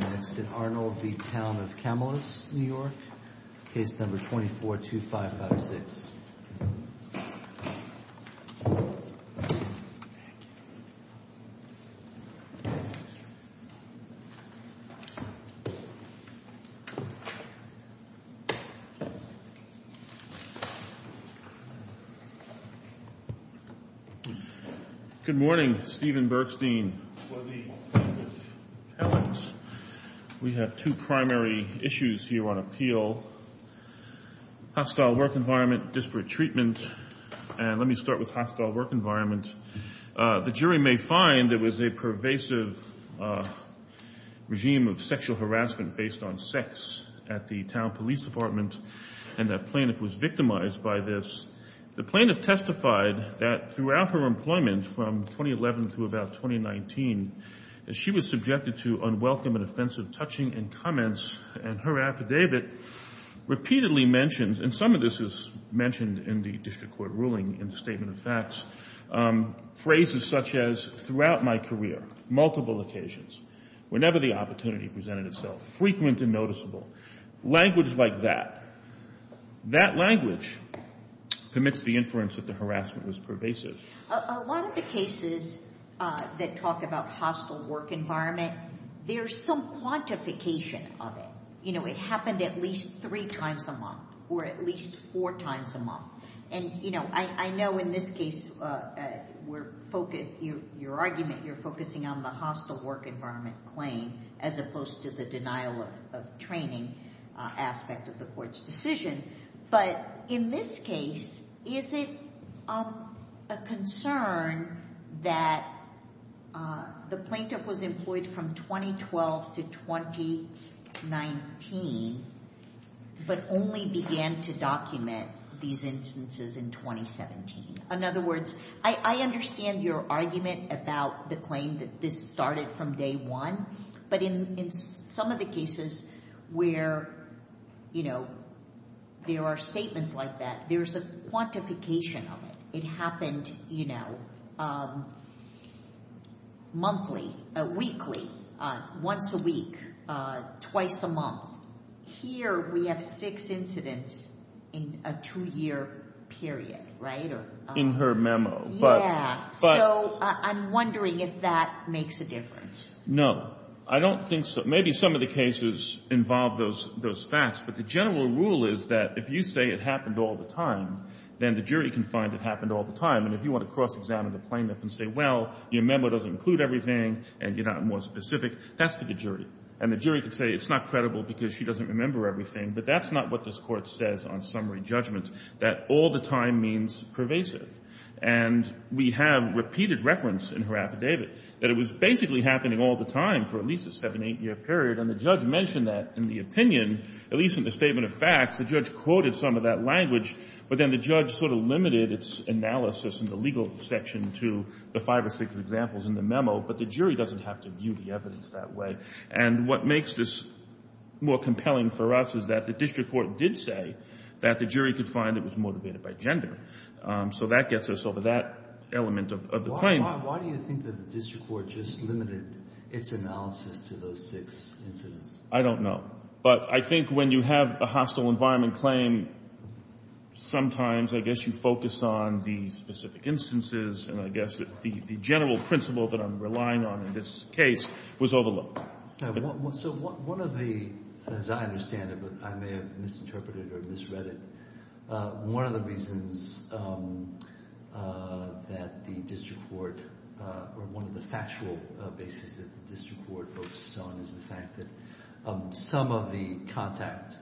242556. Thank you. Good morning, Stephen Bergstein, Lovie, Alex. We have two primary issues here on appeal. Hostile work environment, disparate treatment, and let me start with hostile work environment. The jury may find it was a pervasive regime of sexual harassment based on sex at the town police department, and the plaintiff was victimized by this. The plaintiff testified that throughout her employment from 2011 through about 2019, she was subjected to unwelcome and offensive touching and comments, and her affidavit repeatedly mentions, and some of this is mentioned in the district court ruling in the statement of facts, phrases such as, throughout my career, multiple occasions, whenever the opportunity presented itself, frequent and noticeable, language like that. That language permits the inference that the harassment was pervasive. A lot of the cases that talk about hostile work environment, there's some quantification of it. You know, it happened at least three times a month, or at least four times a month. And you know, I know in this case, your argument, you're focusing on the hostile work environment claim, as opposed to the denial of training aspect of the court's decision. But in this case, is it a concern that the plaintiff was employed from 2012 to 2019, but only began to document these instances in 2017? In other words, I understand your argument about the claim that this started from day one, but in some of the cases where, you know, there are statements like that, there's a quantification of it. It happened, you know, monthly, weekly, once a week, twice a month. Here, we have six incidents in a two-year period, right? In her memo. Yeah, so I'm wondering if that makes a difference. No. I don't think so. Maybe some of the cases involve those facts. But the general rule is that if you say it happened all the time, then the jury can find it happened all the time. And if you want to cross-examine the plaintiff and say, well, your memo doesn't include everything, and you're not more specific, that's for the jury. And the jury could say it's not credible because she doesn't remember everything. But that's not what this court says on summary judgment, that all the time means pervasive. And we have repeated reference in her affidavit that it was basically happening all the time for at least a seven, eight-year period. And the judge mentioned that in the opinion, at least in the statement of facts, the judge quoted some of that language. But then the judge sort of limited its analysis in the legal section to the five or six examples in the memo. But the jury doesn't have to view the evidence that way. And what makes this more compelling for us is that the district court did say that the jury could find it was motivated by gender. So that gets us over that element of the claim. Why do you think that the district court just limited its analysis to those six incidents? I don't know. But I think when you have a hostile environment claim, sometimes I guess you focus on the specific instances. And I guess the general principle that I'm relying on in this case was overlooked. So one of the, as I understand it, but I may have misinterpreted or misread it, one of the reasons that the district court, or one of the factual basis that the district court focuses on is the fact that some of the contact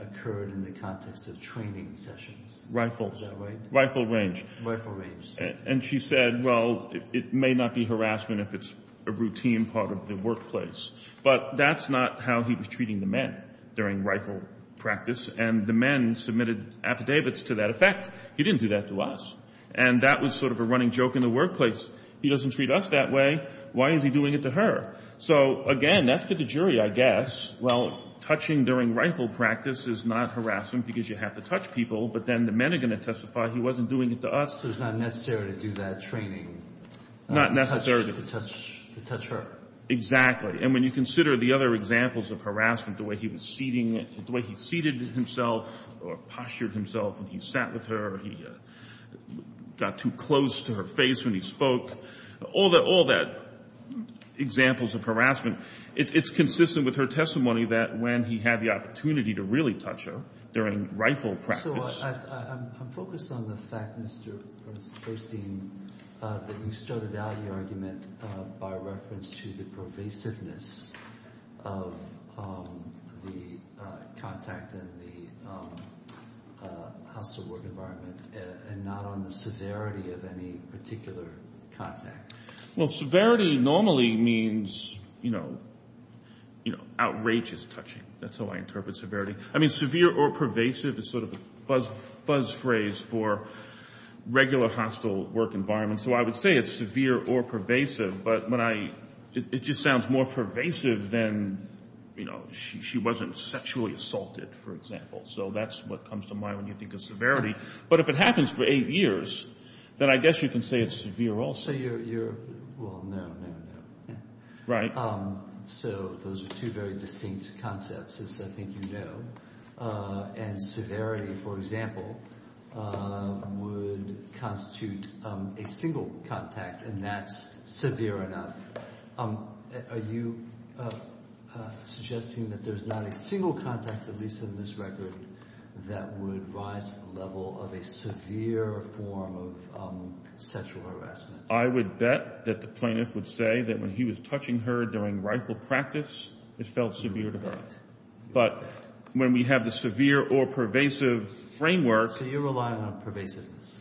occurred in the context of training sessions. Rifle. Is that right? Rifle range. Rifle range. And she said, well, it may not be harassment if it's a routine part of the workplace. But that's not how he was treating the men during rifle practice. And the men submitted affidavits to that effect. He didn't do that to us. And that was sort of a running joke in the workplace. He doesn't treat us that way. Why is he doing it to her? So again, that's for the jury, I guess. Well, touching during rifle practice is not harassment because you have to touch people, but then the men are going to testify he wasn't doing it to us. So it's not necessary to do that training. Not necessarily. To touch her. Exactly. And when you consider the other examples of harassment, the way he was seating, the way he seated himself or postured himself when he sat with her, or he got too close to her face when he spoke, all that examples of harassment, it's consistent with her testimony that when he had the opportunity to really touch her during rifle practice. So I'm focused on the fact, Mr. Bernstein, that you started out your argument by reference to the pervasiveness of the contact and the hostile work environment and not on the severity of any particular contact. Well, severity normally means outrageous touching. That's how I interpret severity. I mean, severe or pervasive is sort of a buzz phrase for regular hostile work environment. So I would say it's severe or pervasive, but it just sounds more pervasive than she wasn't sexually assaulted, for example. So that's what comes to mind when you think of severity. But if it happens for eight years, then I guess you can say it's severe also. Well, no, no, no. Right. So those are two very distinct concepts, as I think you know. And severity, for example, would constitute a single contact, and that's severe enough. Are you suggesting that there's not a single contact, at least in this record, that would rise to the level of a severe form of sexual harassment? I would bet that the plaintiff would say that when he was touching her during rifle practice, it felt severe to her. But when we have the severe or pervasive framework- So you're relying on pervasiveness?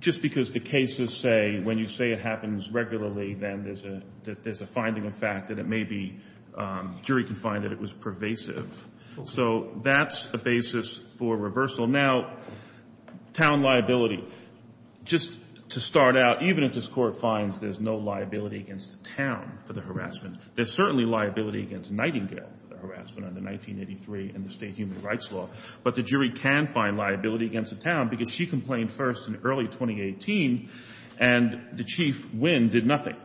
Just because the cases say, when you say it happens regularly, then there's a finding of fact that it may be, jury can find that it was pervasive. So that's the basis for reversal. Now, town liability. Just to start out, even if this court finds there's no liability against the town for the harassment, there's certainly liability against Nightingale for the harassment under 1983 and the state human rights law. But the jury can find liability against the town because she complained first in early 2018 and the chief, Wynn, did nothing,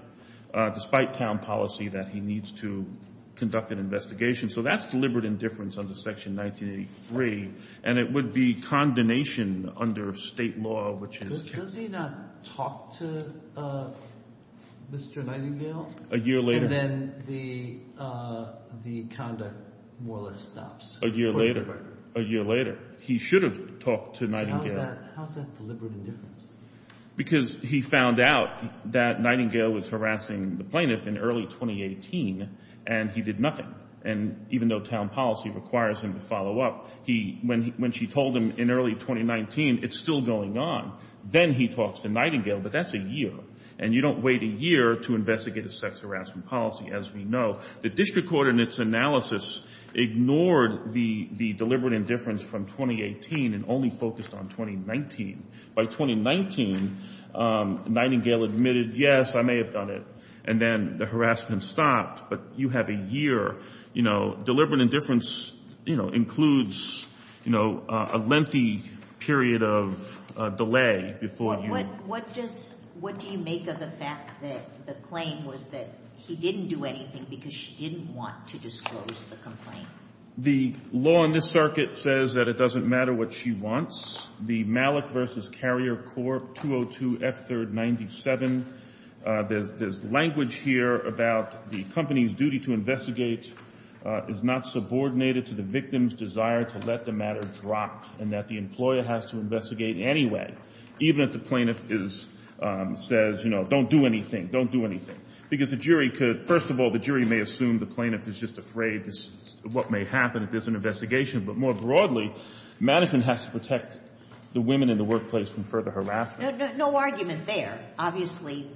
despite town policy that he needs to conduct an investigation. So that's deliberate indifference under section 1983 and it would be condemnation under state law, which is- Does he not talk to Mr. Nightingale? A year later- And then the conduct more or less stops? A year later. A year later. He should have talked to Nightingale. How's that deliberate indifference? Because he found out that Nightingale was harassing the plaintiff in early 2018 and he did nothing. And even though town policy requires him to follow up, when she told him in early 2019, it's still going on. Then he talks to Nightingale, but that's a year. And you don't wait a year to investigate a sex harassment policy, as we know. The district court in its analysis ignored the deliberate indifference from 2018 and only focused on 2019. By 2019, Nightingale admitted, yes, I may have done it. And then the harassment stopped, but you have a year. Deliberate indifference includes a lengthy period of delay before- What do you make of the fact that the claim was that he didn't do anything because she didn't want to disclose the complaint? The law in this circuit says that it doesn't matter what she wants. The Malik v. Carrier Corp. 202 F3rd 97, there's language here about the company's duty to investigate is not subordinated to the victim's desire to let the matter drop and that the employer has to investigate anyway, even if the plaintiff says, don't do anything, don't do anything, because the jury could, first of all, the jury may assume the plaintiff is just afraid of what may happen if there's an investigation, but more broadly, management has to protect the women in the workplace from further harassment. No argument there. Obviously,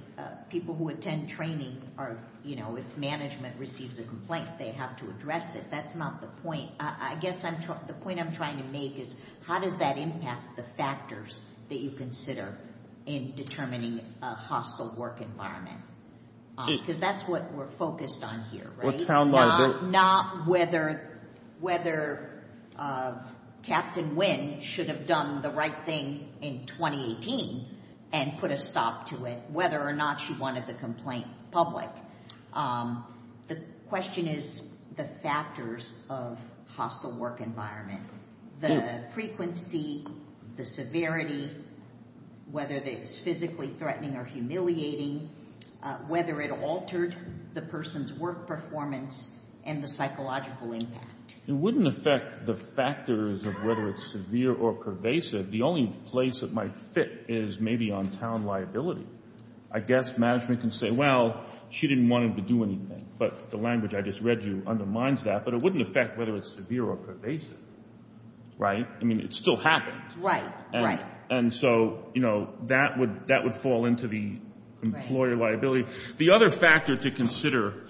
people who attend training are, you know, if management receives a complaint, they have to address it. That's not the point. I guess the point I'm trying to make is how does that impact the factors that you consider in determining a hostile work environment? Because that's what we're focused on here, right? Not whether Captain Nguyen should have done the right thing in 2018 and put a stop to it, whether or not she wanted the complaint public. The question is the factors of hostile work environment. The frequency, the severity, whether it's physically threatening or humiliating, whether it altered the person's work performance and the psychological impact. It wouldn't affect the factors of whether it's severe or pervasive. The only place it might fit is maybe on town liability. I guess management can say, well, she didn't want him to do anything, but the language I just read you undermines that, but it wouldn't affect whether it's severe or pervasive. Right? I mean, it still happened. Right, right. And so, you know, that would fall into the employer liability. The other factor to consider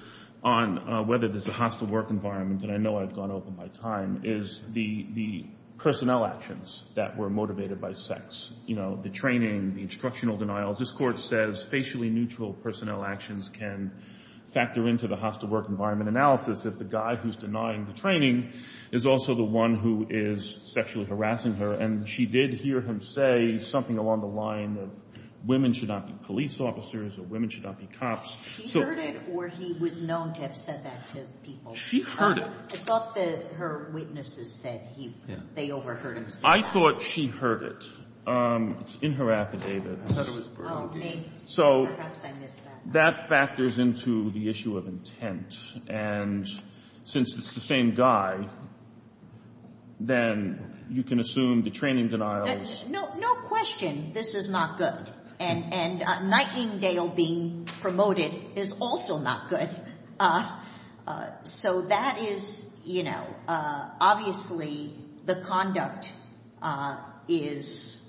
on whether there's a hostile work environment, and I know I've gone over my time, is the personnel actions that were motivated by sex. You know, the training, the instructional denials. This court says facially neutral personnel actions can factor into the hostile work environment analysis if the guy who's denying the training is also the one who is sexually harassing her. And she did hear him say something along the line of women should not be police officers or women should not be cops. She heard it or he was known to have said that to people? She heard it. I thought that her witnesses said they overheard him say that. I thought she heard it. It's in her affidavit. I thought it was burglary. So that factors into the issue of intent. And since it's the same guy, then you can assume the training denial is... No question this is not good. And Nightingale being promoted is also not good. So that is, you know, obviously the conduct is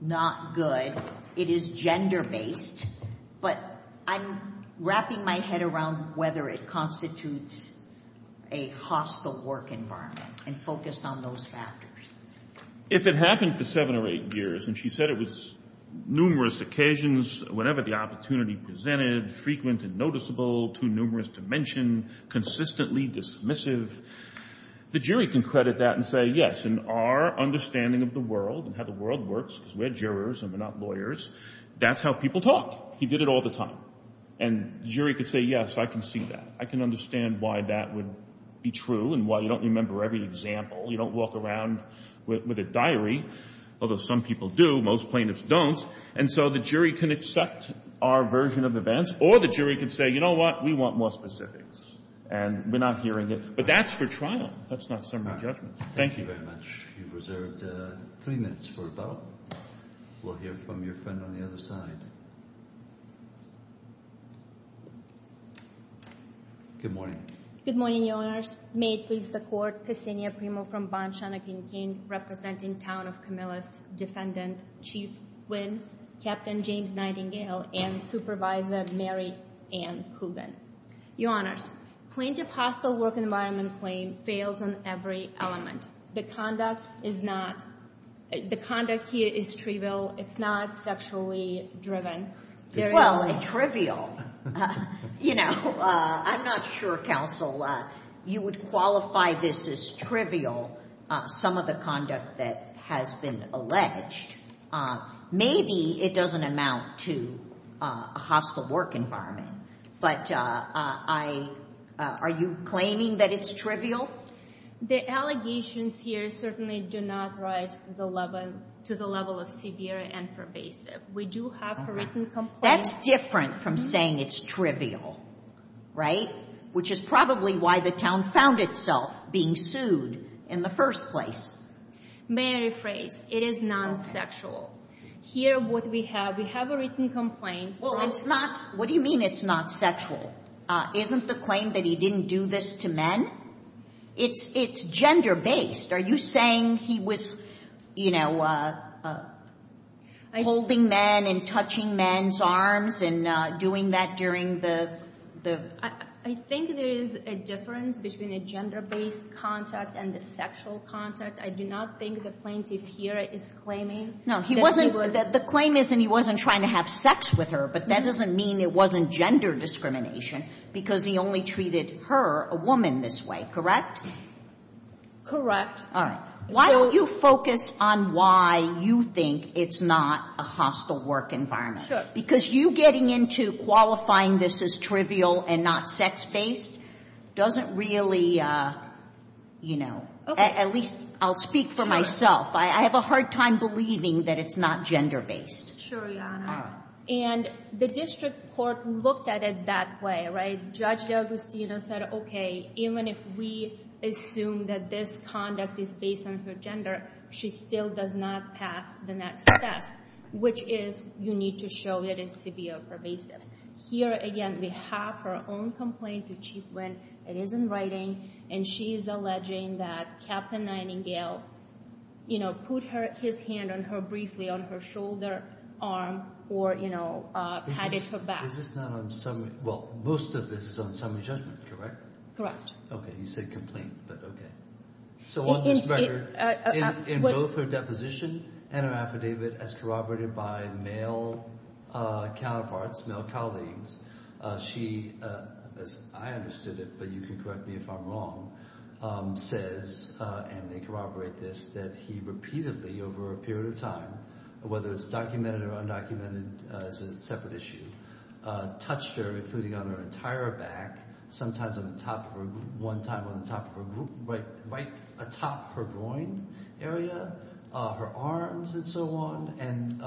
not good. It is gender-based. But I'm wrapping my head around whether it constitutes a hostile work environment and focused on those factors. If it happened for seven or eight years, and she said it was numerous occasions, whenever the opportunity presented, frequent and noticeable, too numerous to mention, consistently dismissive, the jury can credit that and say, yes, in our understanding of the world and how the world works, because we're jurors and we're not lawyers, that's how people talk. He did it all the time. And jury could say, yes, I can see that. I can understand why that would be true and why you don't remember every example. You don't walk around with a diary, although some people do, most plaintiffs don't. And so the jury can accept our version of events or the jury can say, you know what? We want more specifics. And we're not hearing it, but that's for trial. That's not summary judgment. Thank you. Thank you very much. You've reserved three minutes for the bell. We'll hear from your friend on the other side. Good morning. Good morning, Your Honors. May it please the Court, Ksenia Primo from Bonne-Chan Akin-Kin representing Town of Camillus, Defendant Chief Nguyen, Captain James Nightingale, and Supervisor Mary Ann Hogan. Your Honors, plaintiff hostile work environment claim fails on every element. The conduct is not, the conduct here is trivial. It's not sexually driven. Well, it's trivial. You know, I'm not sure, Counsel, you would qualify this as trivial, some of the conduct that has been alleged. Maybe it doesn't amount to a hostile work environment, but are you claiming that it's trivial? The allegations here certainly do not rise to the level of severe and pervasive. We do have a written complaint. That's different from saying it's trivial, right? Which is probably why the town found itself being sued in the first place. May I rephrase? It is non-sexual. Here, what we have, we have a written complaint. Well, it's not, what do you mean it's not sexual? Isn't the claim that he didn't do this to men? It's gender-based. Are you saying he was, you know, holding men and touching men's arms and doing that during the... I think there is a difference between a gender-based contact and a sexual contact. I do not think the plaintiff here is claiming... No, he wasn't, the claim is that he wasn't trying to have sex with her, but that doesn't mean it wasn't gender discrimination, because he only treated her, a woman, this way, correct? Correct. All right. Why don't you focus on why you think it's not a hostile work environment? Because you getting into qualifying this as trivial and not sex-based doesn't really, you know, at least I'll speak for myself, I have a hard time believing that it's not gender-based. Sure, Your Honor. And the district court looked at it that way, right? Judge D'Agostino said, okay, even if we assume that this conduct is based on her gender, she still does not pass the next test, which is, you need to show that it's severe or pervasive. Here, again, we have her own complaint to Chief Wynn, it is in writing, and she is alleging that Captain Nightingale, you know, put his hand on her, briefly, on her shoulder, arm, or, you know, patted her back. Is this not on summary... Well, most of this is on summary judgment, correct? Correct. Okay, you said complaint, but okay. So on this record, in both her deposition and her affidavit, as corroborated by male counterparts, male colleagues, she, as I understood it, but you can correct me if I'm wrong, says, and they corroborate this, that he repeatedly, over a period of time, whether it's documented or undocumented, as a separate issue, touched her, including on her entire back, sometimes on the top of her, one time on the top of her, right atop her groin area, her arms, and so on, and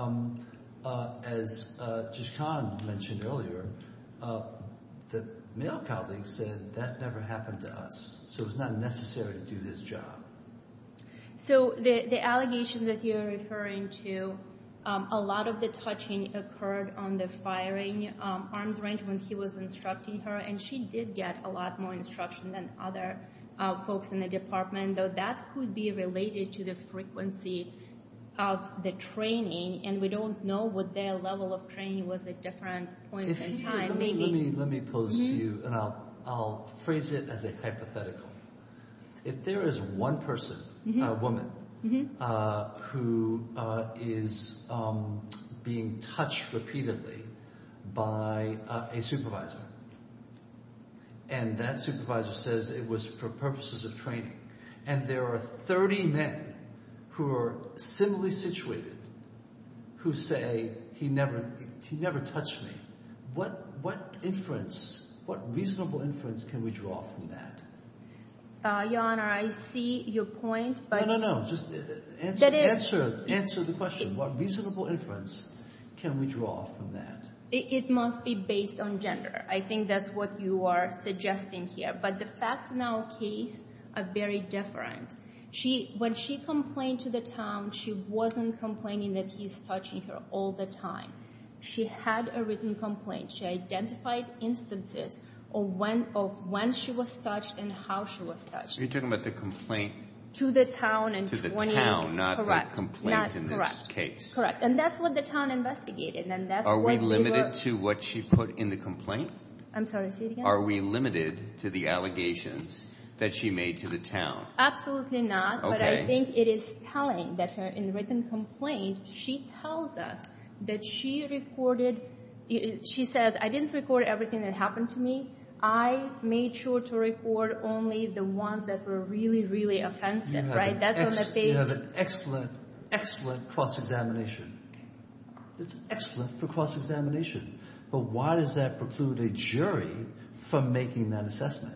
as Jishkan mentioned earlier, the male colleague said, that never happened to us, so it's not necessary to do this job. So the allegation that you're referring to, a lot of the touching occurred on the firing arms range when he was instructing her, and she did get a lot more instruction than other folks in the department, though that could be related to the frequency of the training, and we don't know what their level of training was at different points in time, maybe. Let me pose to you, and I'll phrase it as a hypothetical. If there is one person, a woman, who is being touched repeatedly by a supervisor, and that supervisor says it was for purposes of training, and there are 30 men who are similarly situated, who say, he never touched me, what inference, what reasonable inference can we draw from that? Your Honor, I see your point, but. No, no, no, just answer the question. What reasonable inference can we draw from that? It must be based on gender. I think that's what you are suggesting here, but the facts in our case are very different. When she complained to the town, she wasn't complaining that he's touching her all the time. She had a written complaint. She identified instances of when she was touched and how she was touched. So you're talking about the complaint? To the town, and 20, correct. She had a written complaint in this case. Correct, and that's what the town investigated. Are we limited to what she put in the complaint? I'm sorry, say it again? Are we limited to the allegations that she made to the town? Absolutely not, but I think it is telling that her in written complaint, she tells us that she recorded, she says, I didn't record everything that happened to me. I made sure to record only the ones that were really, really offensive, right? You have an excellent, excellent cross-examination. It's excellent for cross-examination, but why does that preclude a jury from making that assessment?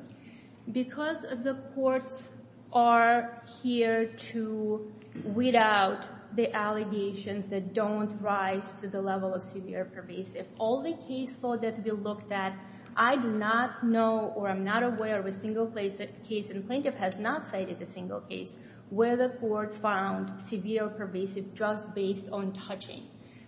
Because the courts are here to weed out the allegations that don't rise to the level of severe pervasive. All the case law that we looked at, I do not know or I'm not aware of a single case, and plaintiff has not cited a single case, where the court found severe pervasive just based on touching.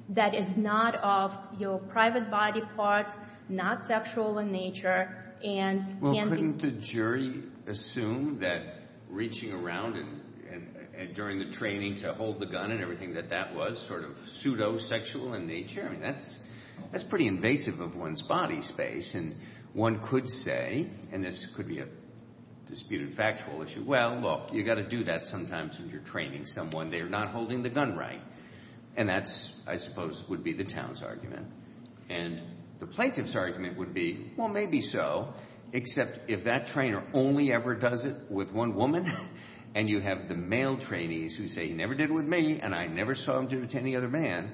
That is not of your private body parts, not sexual in nature, and can be- Well, couldn't the jury assume that reaching around and during the training to hold the gun and everything that that was sort of pseudo-sexual in nature, I mean, that's pretty invasive of one's body space, and one could say, and this could be a disputed factual issue, well, look, you gotta do that sometimes when you're training someone, they're not holding the gun right. And that's, I suppose, would be the town's argument. And the plaintiff's argument would be, well, maybe so, except if that trainer only ever does it with one woman, and you have the male trainees who say, he never did it with me, and I never saw him do it to any other man,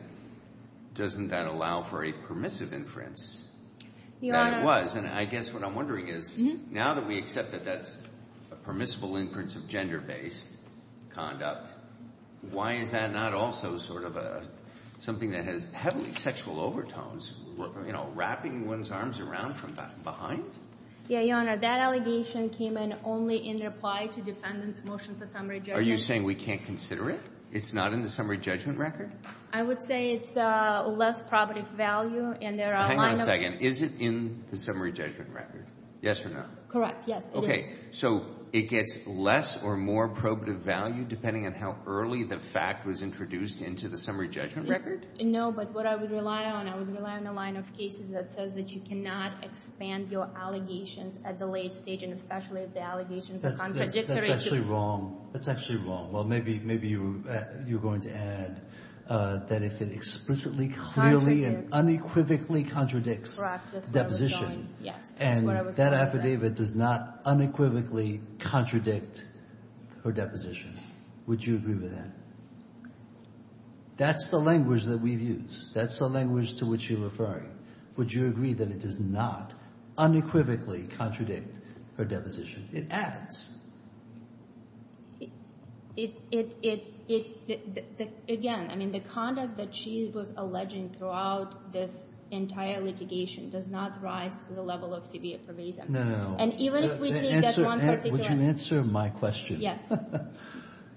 doesn't that allow for a permissive inference? That it was, and I guess what I'm wondering is, now that we accept that that's a permissible inference of gender-based conduct, why is that not also sort of something that has heavily sexual overtones, wrapping one's arms around from behind? Yeah, Your Honor, that allegation came in only in reply to defendant's motion for summary judgment. Are you saying we can't consider it? It's not in the summary judgment record? I would say it's less probative value, and there are a line of- Hang on a second, is it in the summary judgment record? Yes or no? Correct, yes, it is. Okay, so it gets less or more probative value depending on how early the fact was introduced into the summary judgment record? No, but what I would rely on, I would rely on a line of cases that says that you cannot expand your allegations at the late stage, and especially if the allegations are contradictory to- That's actually wrong, that's actually wrong. Well, maybe you're going to add that if it explicitly, clearly, and unequivocally contradicts deposition, and that affidavit does not unequivocally contradict her deposition, would you agree with that? That's the language that we've used. That's the language to which you're referring. Would you agree that it does not unequivocally contradict her deposition? It adds. Again, the conduct that she was alleging throughout this entire litigation does not rise to the level of severe pervasive. No, no, no. And even if we take that one particular- Would you answer my question? Yes. Yes, it does not-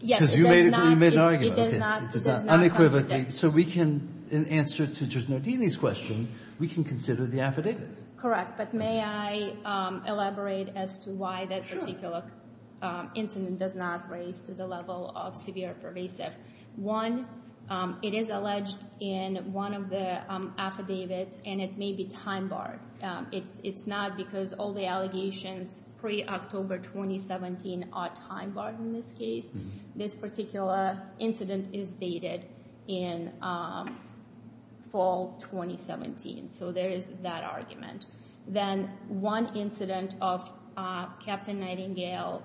Because you made an argument, okay. It does not contradict. So we can, in answer to Judge Nardini's question, we can consider the affidavit. Correct, but may I elaborate as to why that particular incident does not raise to the level of severe pervasive? One, it is alleged in one of the affidavits, and it may be time-barred. It's not because all the allegations pre-October 2017 are time-barred in this case. This particular incident is dated in fall 2017. So there is that argument. Then, one incident of Captain Nightingale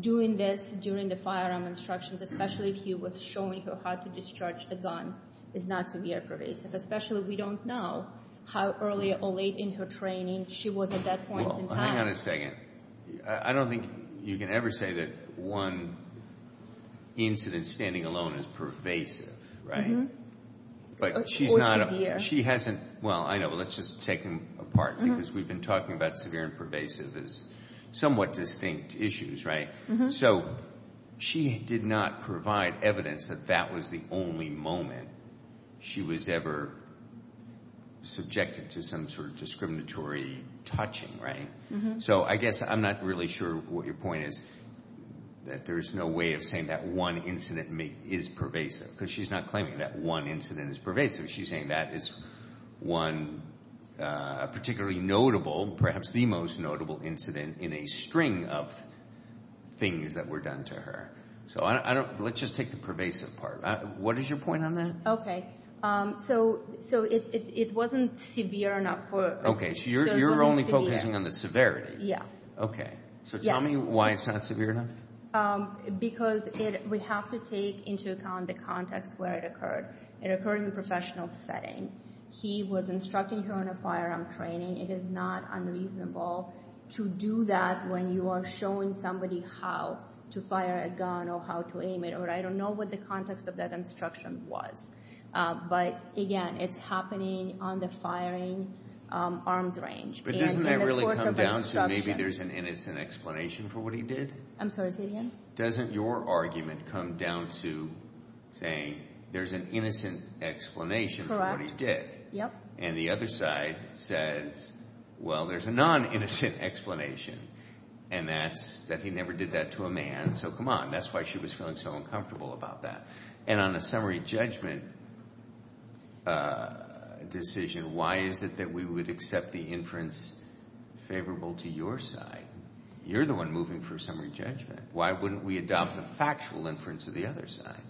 doing this during the firearm instructions, especially if he was showing her how to discharge the gun, is not severe pervasive. Especially, we don't know how early or late in her training she was at that point in time. Well, hang on a second. I don't think you can ever say that one incident standing alone is pervasive, right? But she's not- She hasn't, well, I know, but let's just take them apart because we've been talking about severe and pervasive as somewhat distinct issues, right? So she did not provide evidence that that was the only moment she was ever subjected to some sort of discriminatory touching, right? So I guess I'm not really sure what your point is, that there's no way of saying that one incident is pervasive because she's not claiming that one incident is pervasive. She's saying that is one particularly notable, perhaps the most notable incident in a string of things that were done to her. So let's just take the pervasive part. What is your point on that? Okay, so it wasn't severe enough for- Okay, so you're only focusing on the severity. Yeah. Okay, so tell me why it's not severe enough. Because we have to take into account the context where it occurred. It occurred in a professional setting. He was instructing her in a firearm training. It is not unreasonable to do that when you are showing somebody how to fire a gun or how to aim it, or I don't know what the context of that instruction was. But again, it's happening on the firing arms range. But doesn't that really come down to maybe there's an innocent explanation for what he did? I'm sorry, say that again? Doesn't your argument come down to saying there's an innocent explanation for what he did? Yep. And the other side says, well, there's a non-innocent explanation, and that's that he never did that to a man, so come on, that's why she was feeling so uncomfortable about that. And on the summary judgment decision, why is it that we would accept the inference favorable to your side? You're the one moving for summary judgment. Why wouldn't we adopt the factual inference of the other side?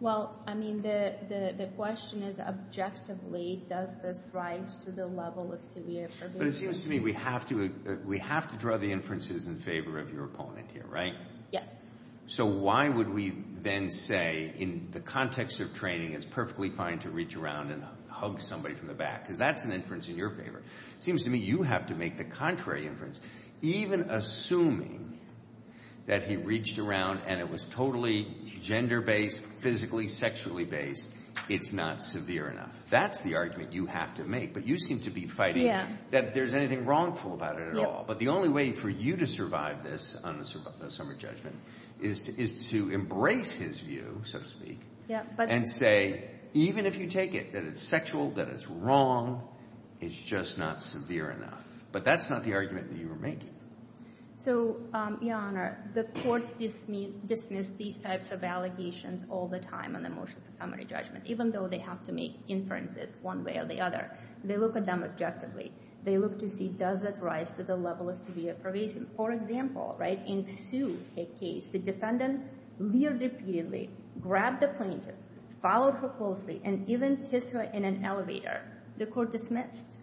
Well, I mean, the question is, objectively, does this rise to the level of severe... But it seems to me we have to draw the inferences in favor of your opponent here, right? Yes. So why would we then say, in the context of training, it's perfectly fine to reach around and hug somebody from the back? Because that's an inference in your favor. Seems to me you have to make the contrary inference. Even assuming that he reached around and it was totally gender-based, physically, sexually based, it's not severe enough. That's the argument you have to make. But you seem to be fighting that there's anything wrongful about it at all. But the only way for you to survive this on the summary judgment is to embrace his view, so to speak, and say, even if you take it that it's sexual, that it's wrong, it's just not severe enough. But that's not the argument that you were making. So, Your Honor, the courts dismiss these types of allegations all the time on the motion for summary judgment, even though they have to make inferences one way or the other. They look at them objectively. They look to see, does it rise to the level of severe pervasive? For example, in Sue's case, the defendant leered repeatedly, grabbed the plaintiff, followed her closely, and even kissed her in an elevator. The court dismissed.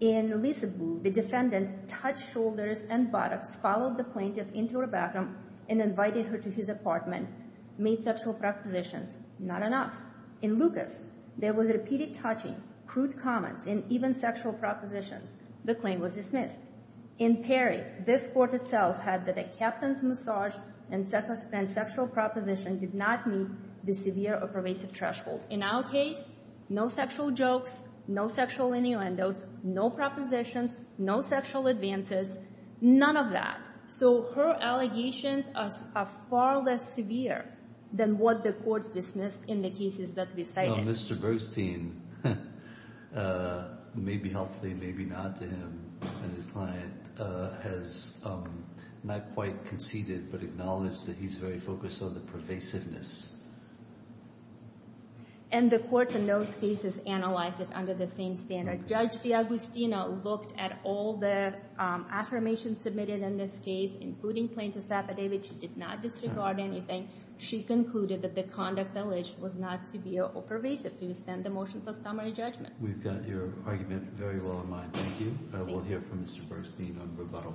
In Lisa Boo, the defendant touched shoulders and buttocks, followed the plaintiff into her bathroom, and invited her to his apartment, made sexual propositions. Not enough. In Lucas, there was repeated touching, crude comments, and even sexual propositions. The claim was dismissed. In Perry, this court itself had that a captain's massage and sexual proposition did not meet the severe or pervasive threshold. In our case, no sexual jokes, no sexual innuendos, no propositions, no sexual advances, none of that. So her allegations are far less severe than what the courts dismissed in the cases that we cited. Mr. Bergstein, maybe helpfully, maybe not to him and his client, has not quite conceded, but acknowledged that he's very focused on the pervasiveness. And the courts in those cases analyzed it under the same standard. Judge D'Agostino looked at all the affirmations submitted in this case, including plaintiff's affidavit. She did not disregard anything. She concluded that the conduct alleged was not severe or pervasive. Do you stand the motion for summary judgment? We've got your argument very well in mind. Thank you. We'll hear from Mr. Bergstein on rebuttal.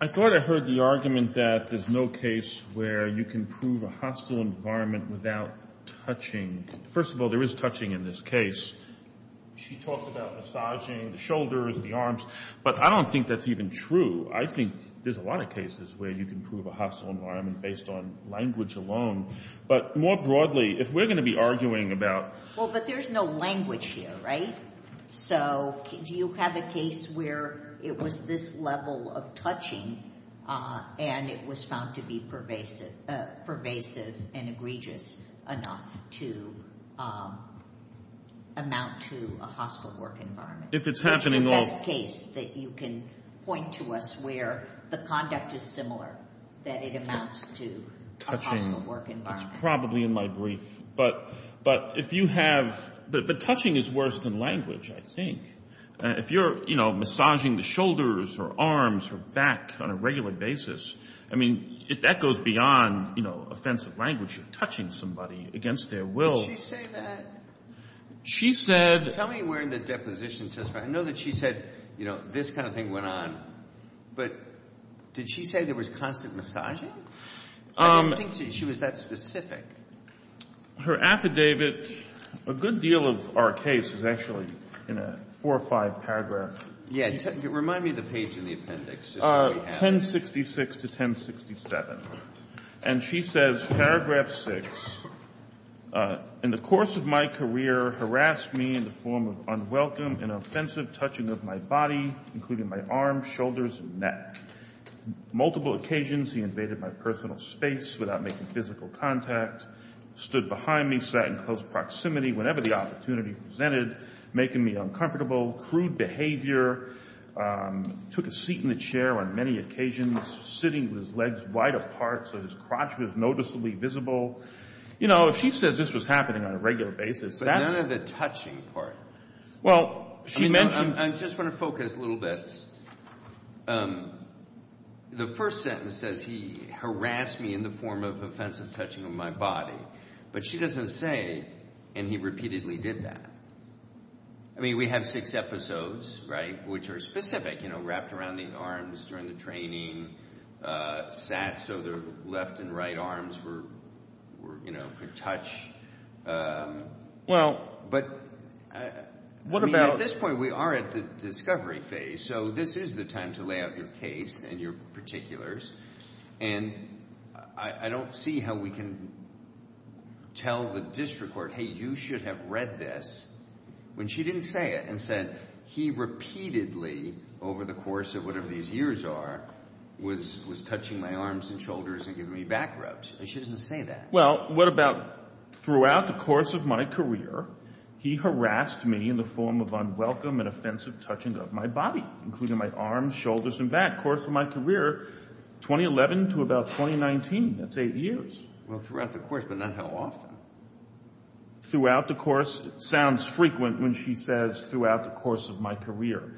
I thought I heard the argument that there's no case where you can prove a hostile environment without touching. First of all, there is touching in this case. She talked about massaging the shoulders and the arms, but I don't think that's even true. I think there's a lot of cases where you can prove a hostile environment based on language alone. But more broadly, if we're gonna be arguing about- Well, but there's no language here, right? So do you have a case where it was this level of touching and it was found to be pervasive and egregious enough to amount to a hostile work environment? If it's happening- That's the best case that you can point to us where the conduct is similar, that it amounts to a hostile work environment. It's probably in my brief. But touching is worse than language, I think. If you're massaging the shoulders or arms or back on a regular basis, I mean, that goes beyond offensive language. Touching somebody against their will- She said- Tell me where in the deposition testifier, I know that she said, you know, this kind of thing went on, but did she say there was constant massaging? I don't think she was that specific. Her affidavit, a good deal of our case is actually in a four or five paragraph- Yeah, remind me of the page in the appendix. 1066 to 1067. And she says, paragraph six, in the course of my career harassed me in the form of unwelcome and offensive touching of my body, including my arms, shoulders, and neck. Multiple occasions, he invaded my personal space without making physical contact, stood behind me, sat in close proximity whenever the opportunity presented, making me uncomfortable, crude behavior, took a seat in the chair on many occasions, sitting with his legs wide apart so his crotch was noticeably visible. You know, if she says this was happening on a regular basis, that's- But none of the touching part. Well, she mentioned- I just want to focus a little bit. The first sentence says he harassed me in the form of offensive touching of my body, but she doesn't say, and he repeatedly did that. I mean, we have six episodes, right, which are specific, wrapped around the arms during the training, sat so the left and right arms were, you know, could touch. Well- But- What about- I mean, at this point, we are at the discovery phase, so this is the time to lay out your case and your particulars. And I don't see how we can tell the district court, hey, you should have read this when she didn't say it and said he repeatedly, over the course of whatever these years are, was touching my arms and shoulders and giving me back rubs. She doesn't say that. Well, what about throughout the course of my career, he harassed me in the form of unwelcome and offensive touching of my body, including my arms, shoulders, and back. Course of my career, 2011 to about 2019, that's eight years. Well, throughout the course, but not how often. Throughout the course sounds frequent when she says throughout the course of my career.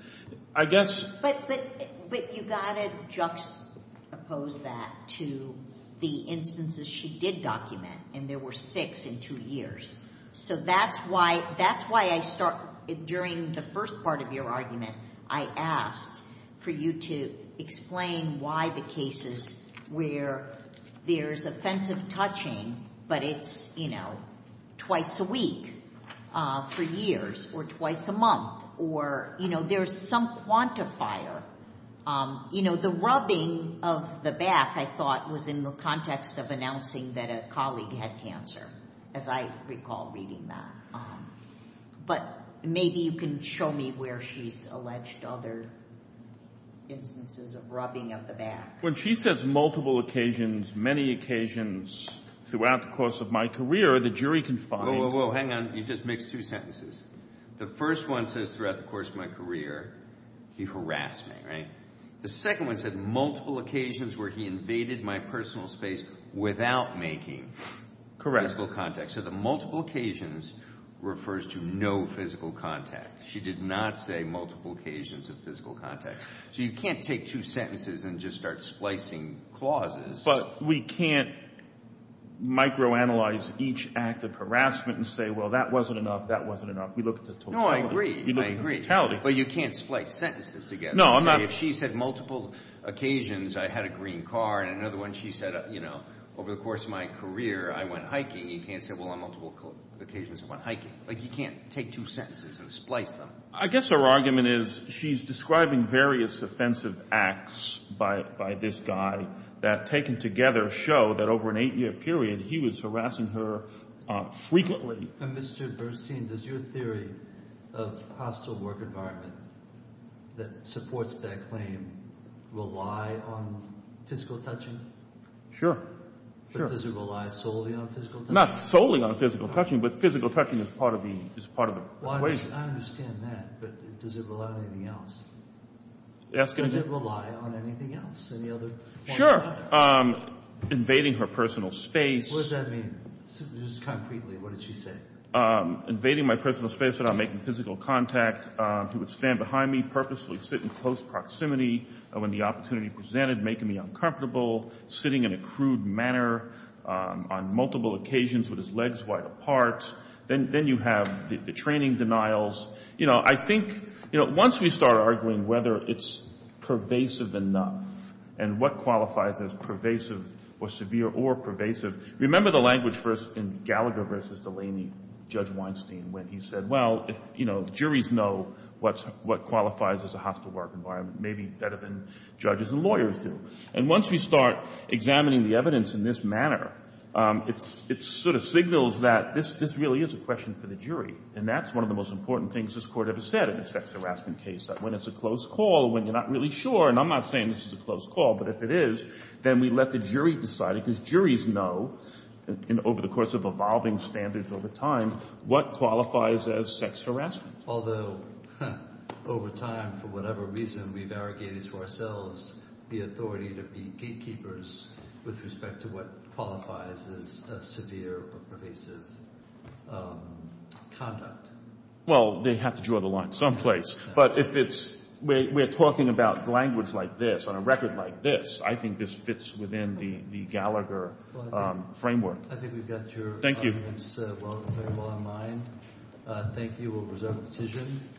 I guess- But you gotta juxtapose that to the instances she did document, and there were six in two years. So that's why I start, during the first part of your argument, I asked for you to explain why the cases where there's offensive touching, but it's twice a week for years, or twice a month, or there's some quantifier. The rubbing of the back, I thought, was in the context of announcing that a colleague had cancer, as I recall reading that. But maybe you can show me where she's alleged other instances of rubbing of the back. When she says multiple occasions, many occasions, throughout the course of my career, the jury can find- Whoa, whoa, whoa, hang on. You just mixed two sentences. The first one says throughout the course of my career, he harassed me, right? The second one said multiple occasions where he invaded my personal space without making physical contact. So the multiple occasions refers to no physical contact. She did not say multiple occasions of physical contact. So you can't take two sentences and just start splicing clauses. But we can't microanalyze each act of harassment and say, well, that wasn't enough, that wasn't enough. We look at the totality. No, I agree, I agree. But you can't splice sentences together. No, I'm not- If she said multiple occasions, I had a green car, and another one, she said, over the course of my career, I went hiking. You can't say, well, on multiple occasions, I went hiking. Like, you can't take two sentences and splice them. I guess her argument is she's describing various offensive acts by this guy that taken together show that over an eight-year period, he was harassing her frequently. And Mr. Burstein, does your theory of hostile work environment that supports that claim rely on physical touching? Sure, sure. But does it rely solely on physical touching? Not solely on physical touching, but physical touching is part of the equation. Well, I understand that, but does it rely on anything else? Ask him again. Does it rely on anything else? Sure. Invading her personal space. What does that mean, just concretely? What did she say? Invading my personal space without making physical contact. He would stand behind me, purposely sit in close proximity when the opportunity presented, making me uncomfortable. Sitting in a crude manner on multiple occasions with his legs wide apart. Then you have the training denials. You know, I think, once we start arguing whether it's pervasive enough and what qualifies as pervasive or severe or pervasive. Remember the language in Gallagher versus Delaney, Judge Weinstein, when he said, well, if, you know, juries know what qualifies as a hostile work environment, maybe better than judges and lawyers do. And once we start examining the evidence in this manner, it sort of signals that this really is a question for the jury. And that's one of the most important things this Court ever said in a sex harassment case, that when it's a close call, when you're not really sure, and I'm not saying this is a close call, but if it is, then we let the jury decide it, because juries know, over the course of evolving standards over time, what qualifies as sex harassment. Although, over time, for whatever reason, we've arrogated to ourselves the authority to be gatekeepers with respect to what qualifies as severe or pervasive conduct. Well, they have to draw the line someplace. But if it's, we're talking about language like this, on a record like this, I think this fits within the Gallagher framework. I think we've got your comments very well in mind. Thank you, we'll reserve a decision.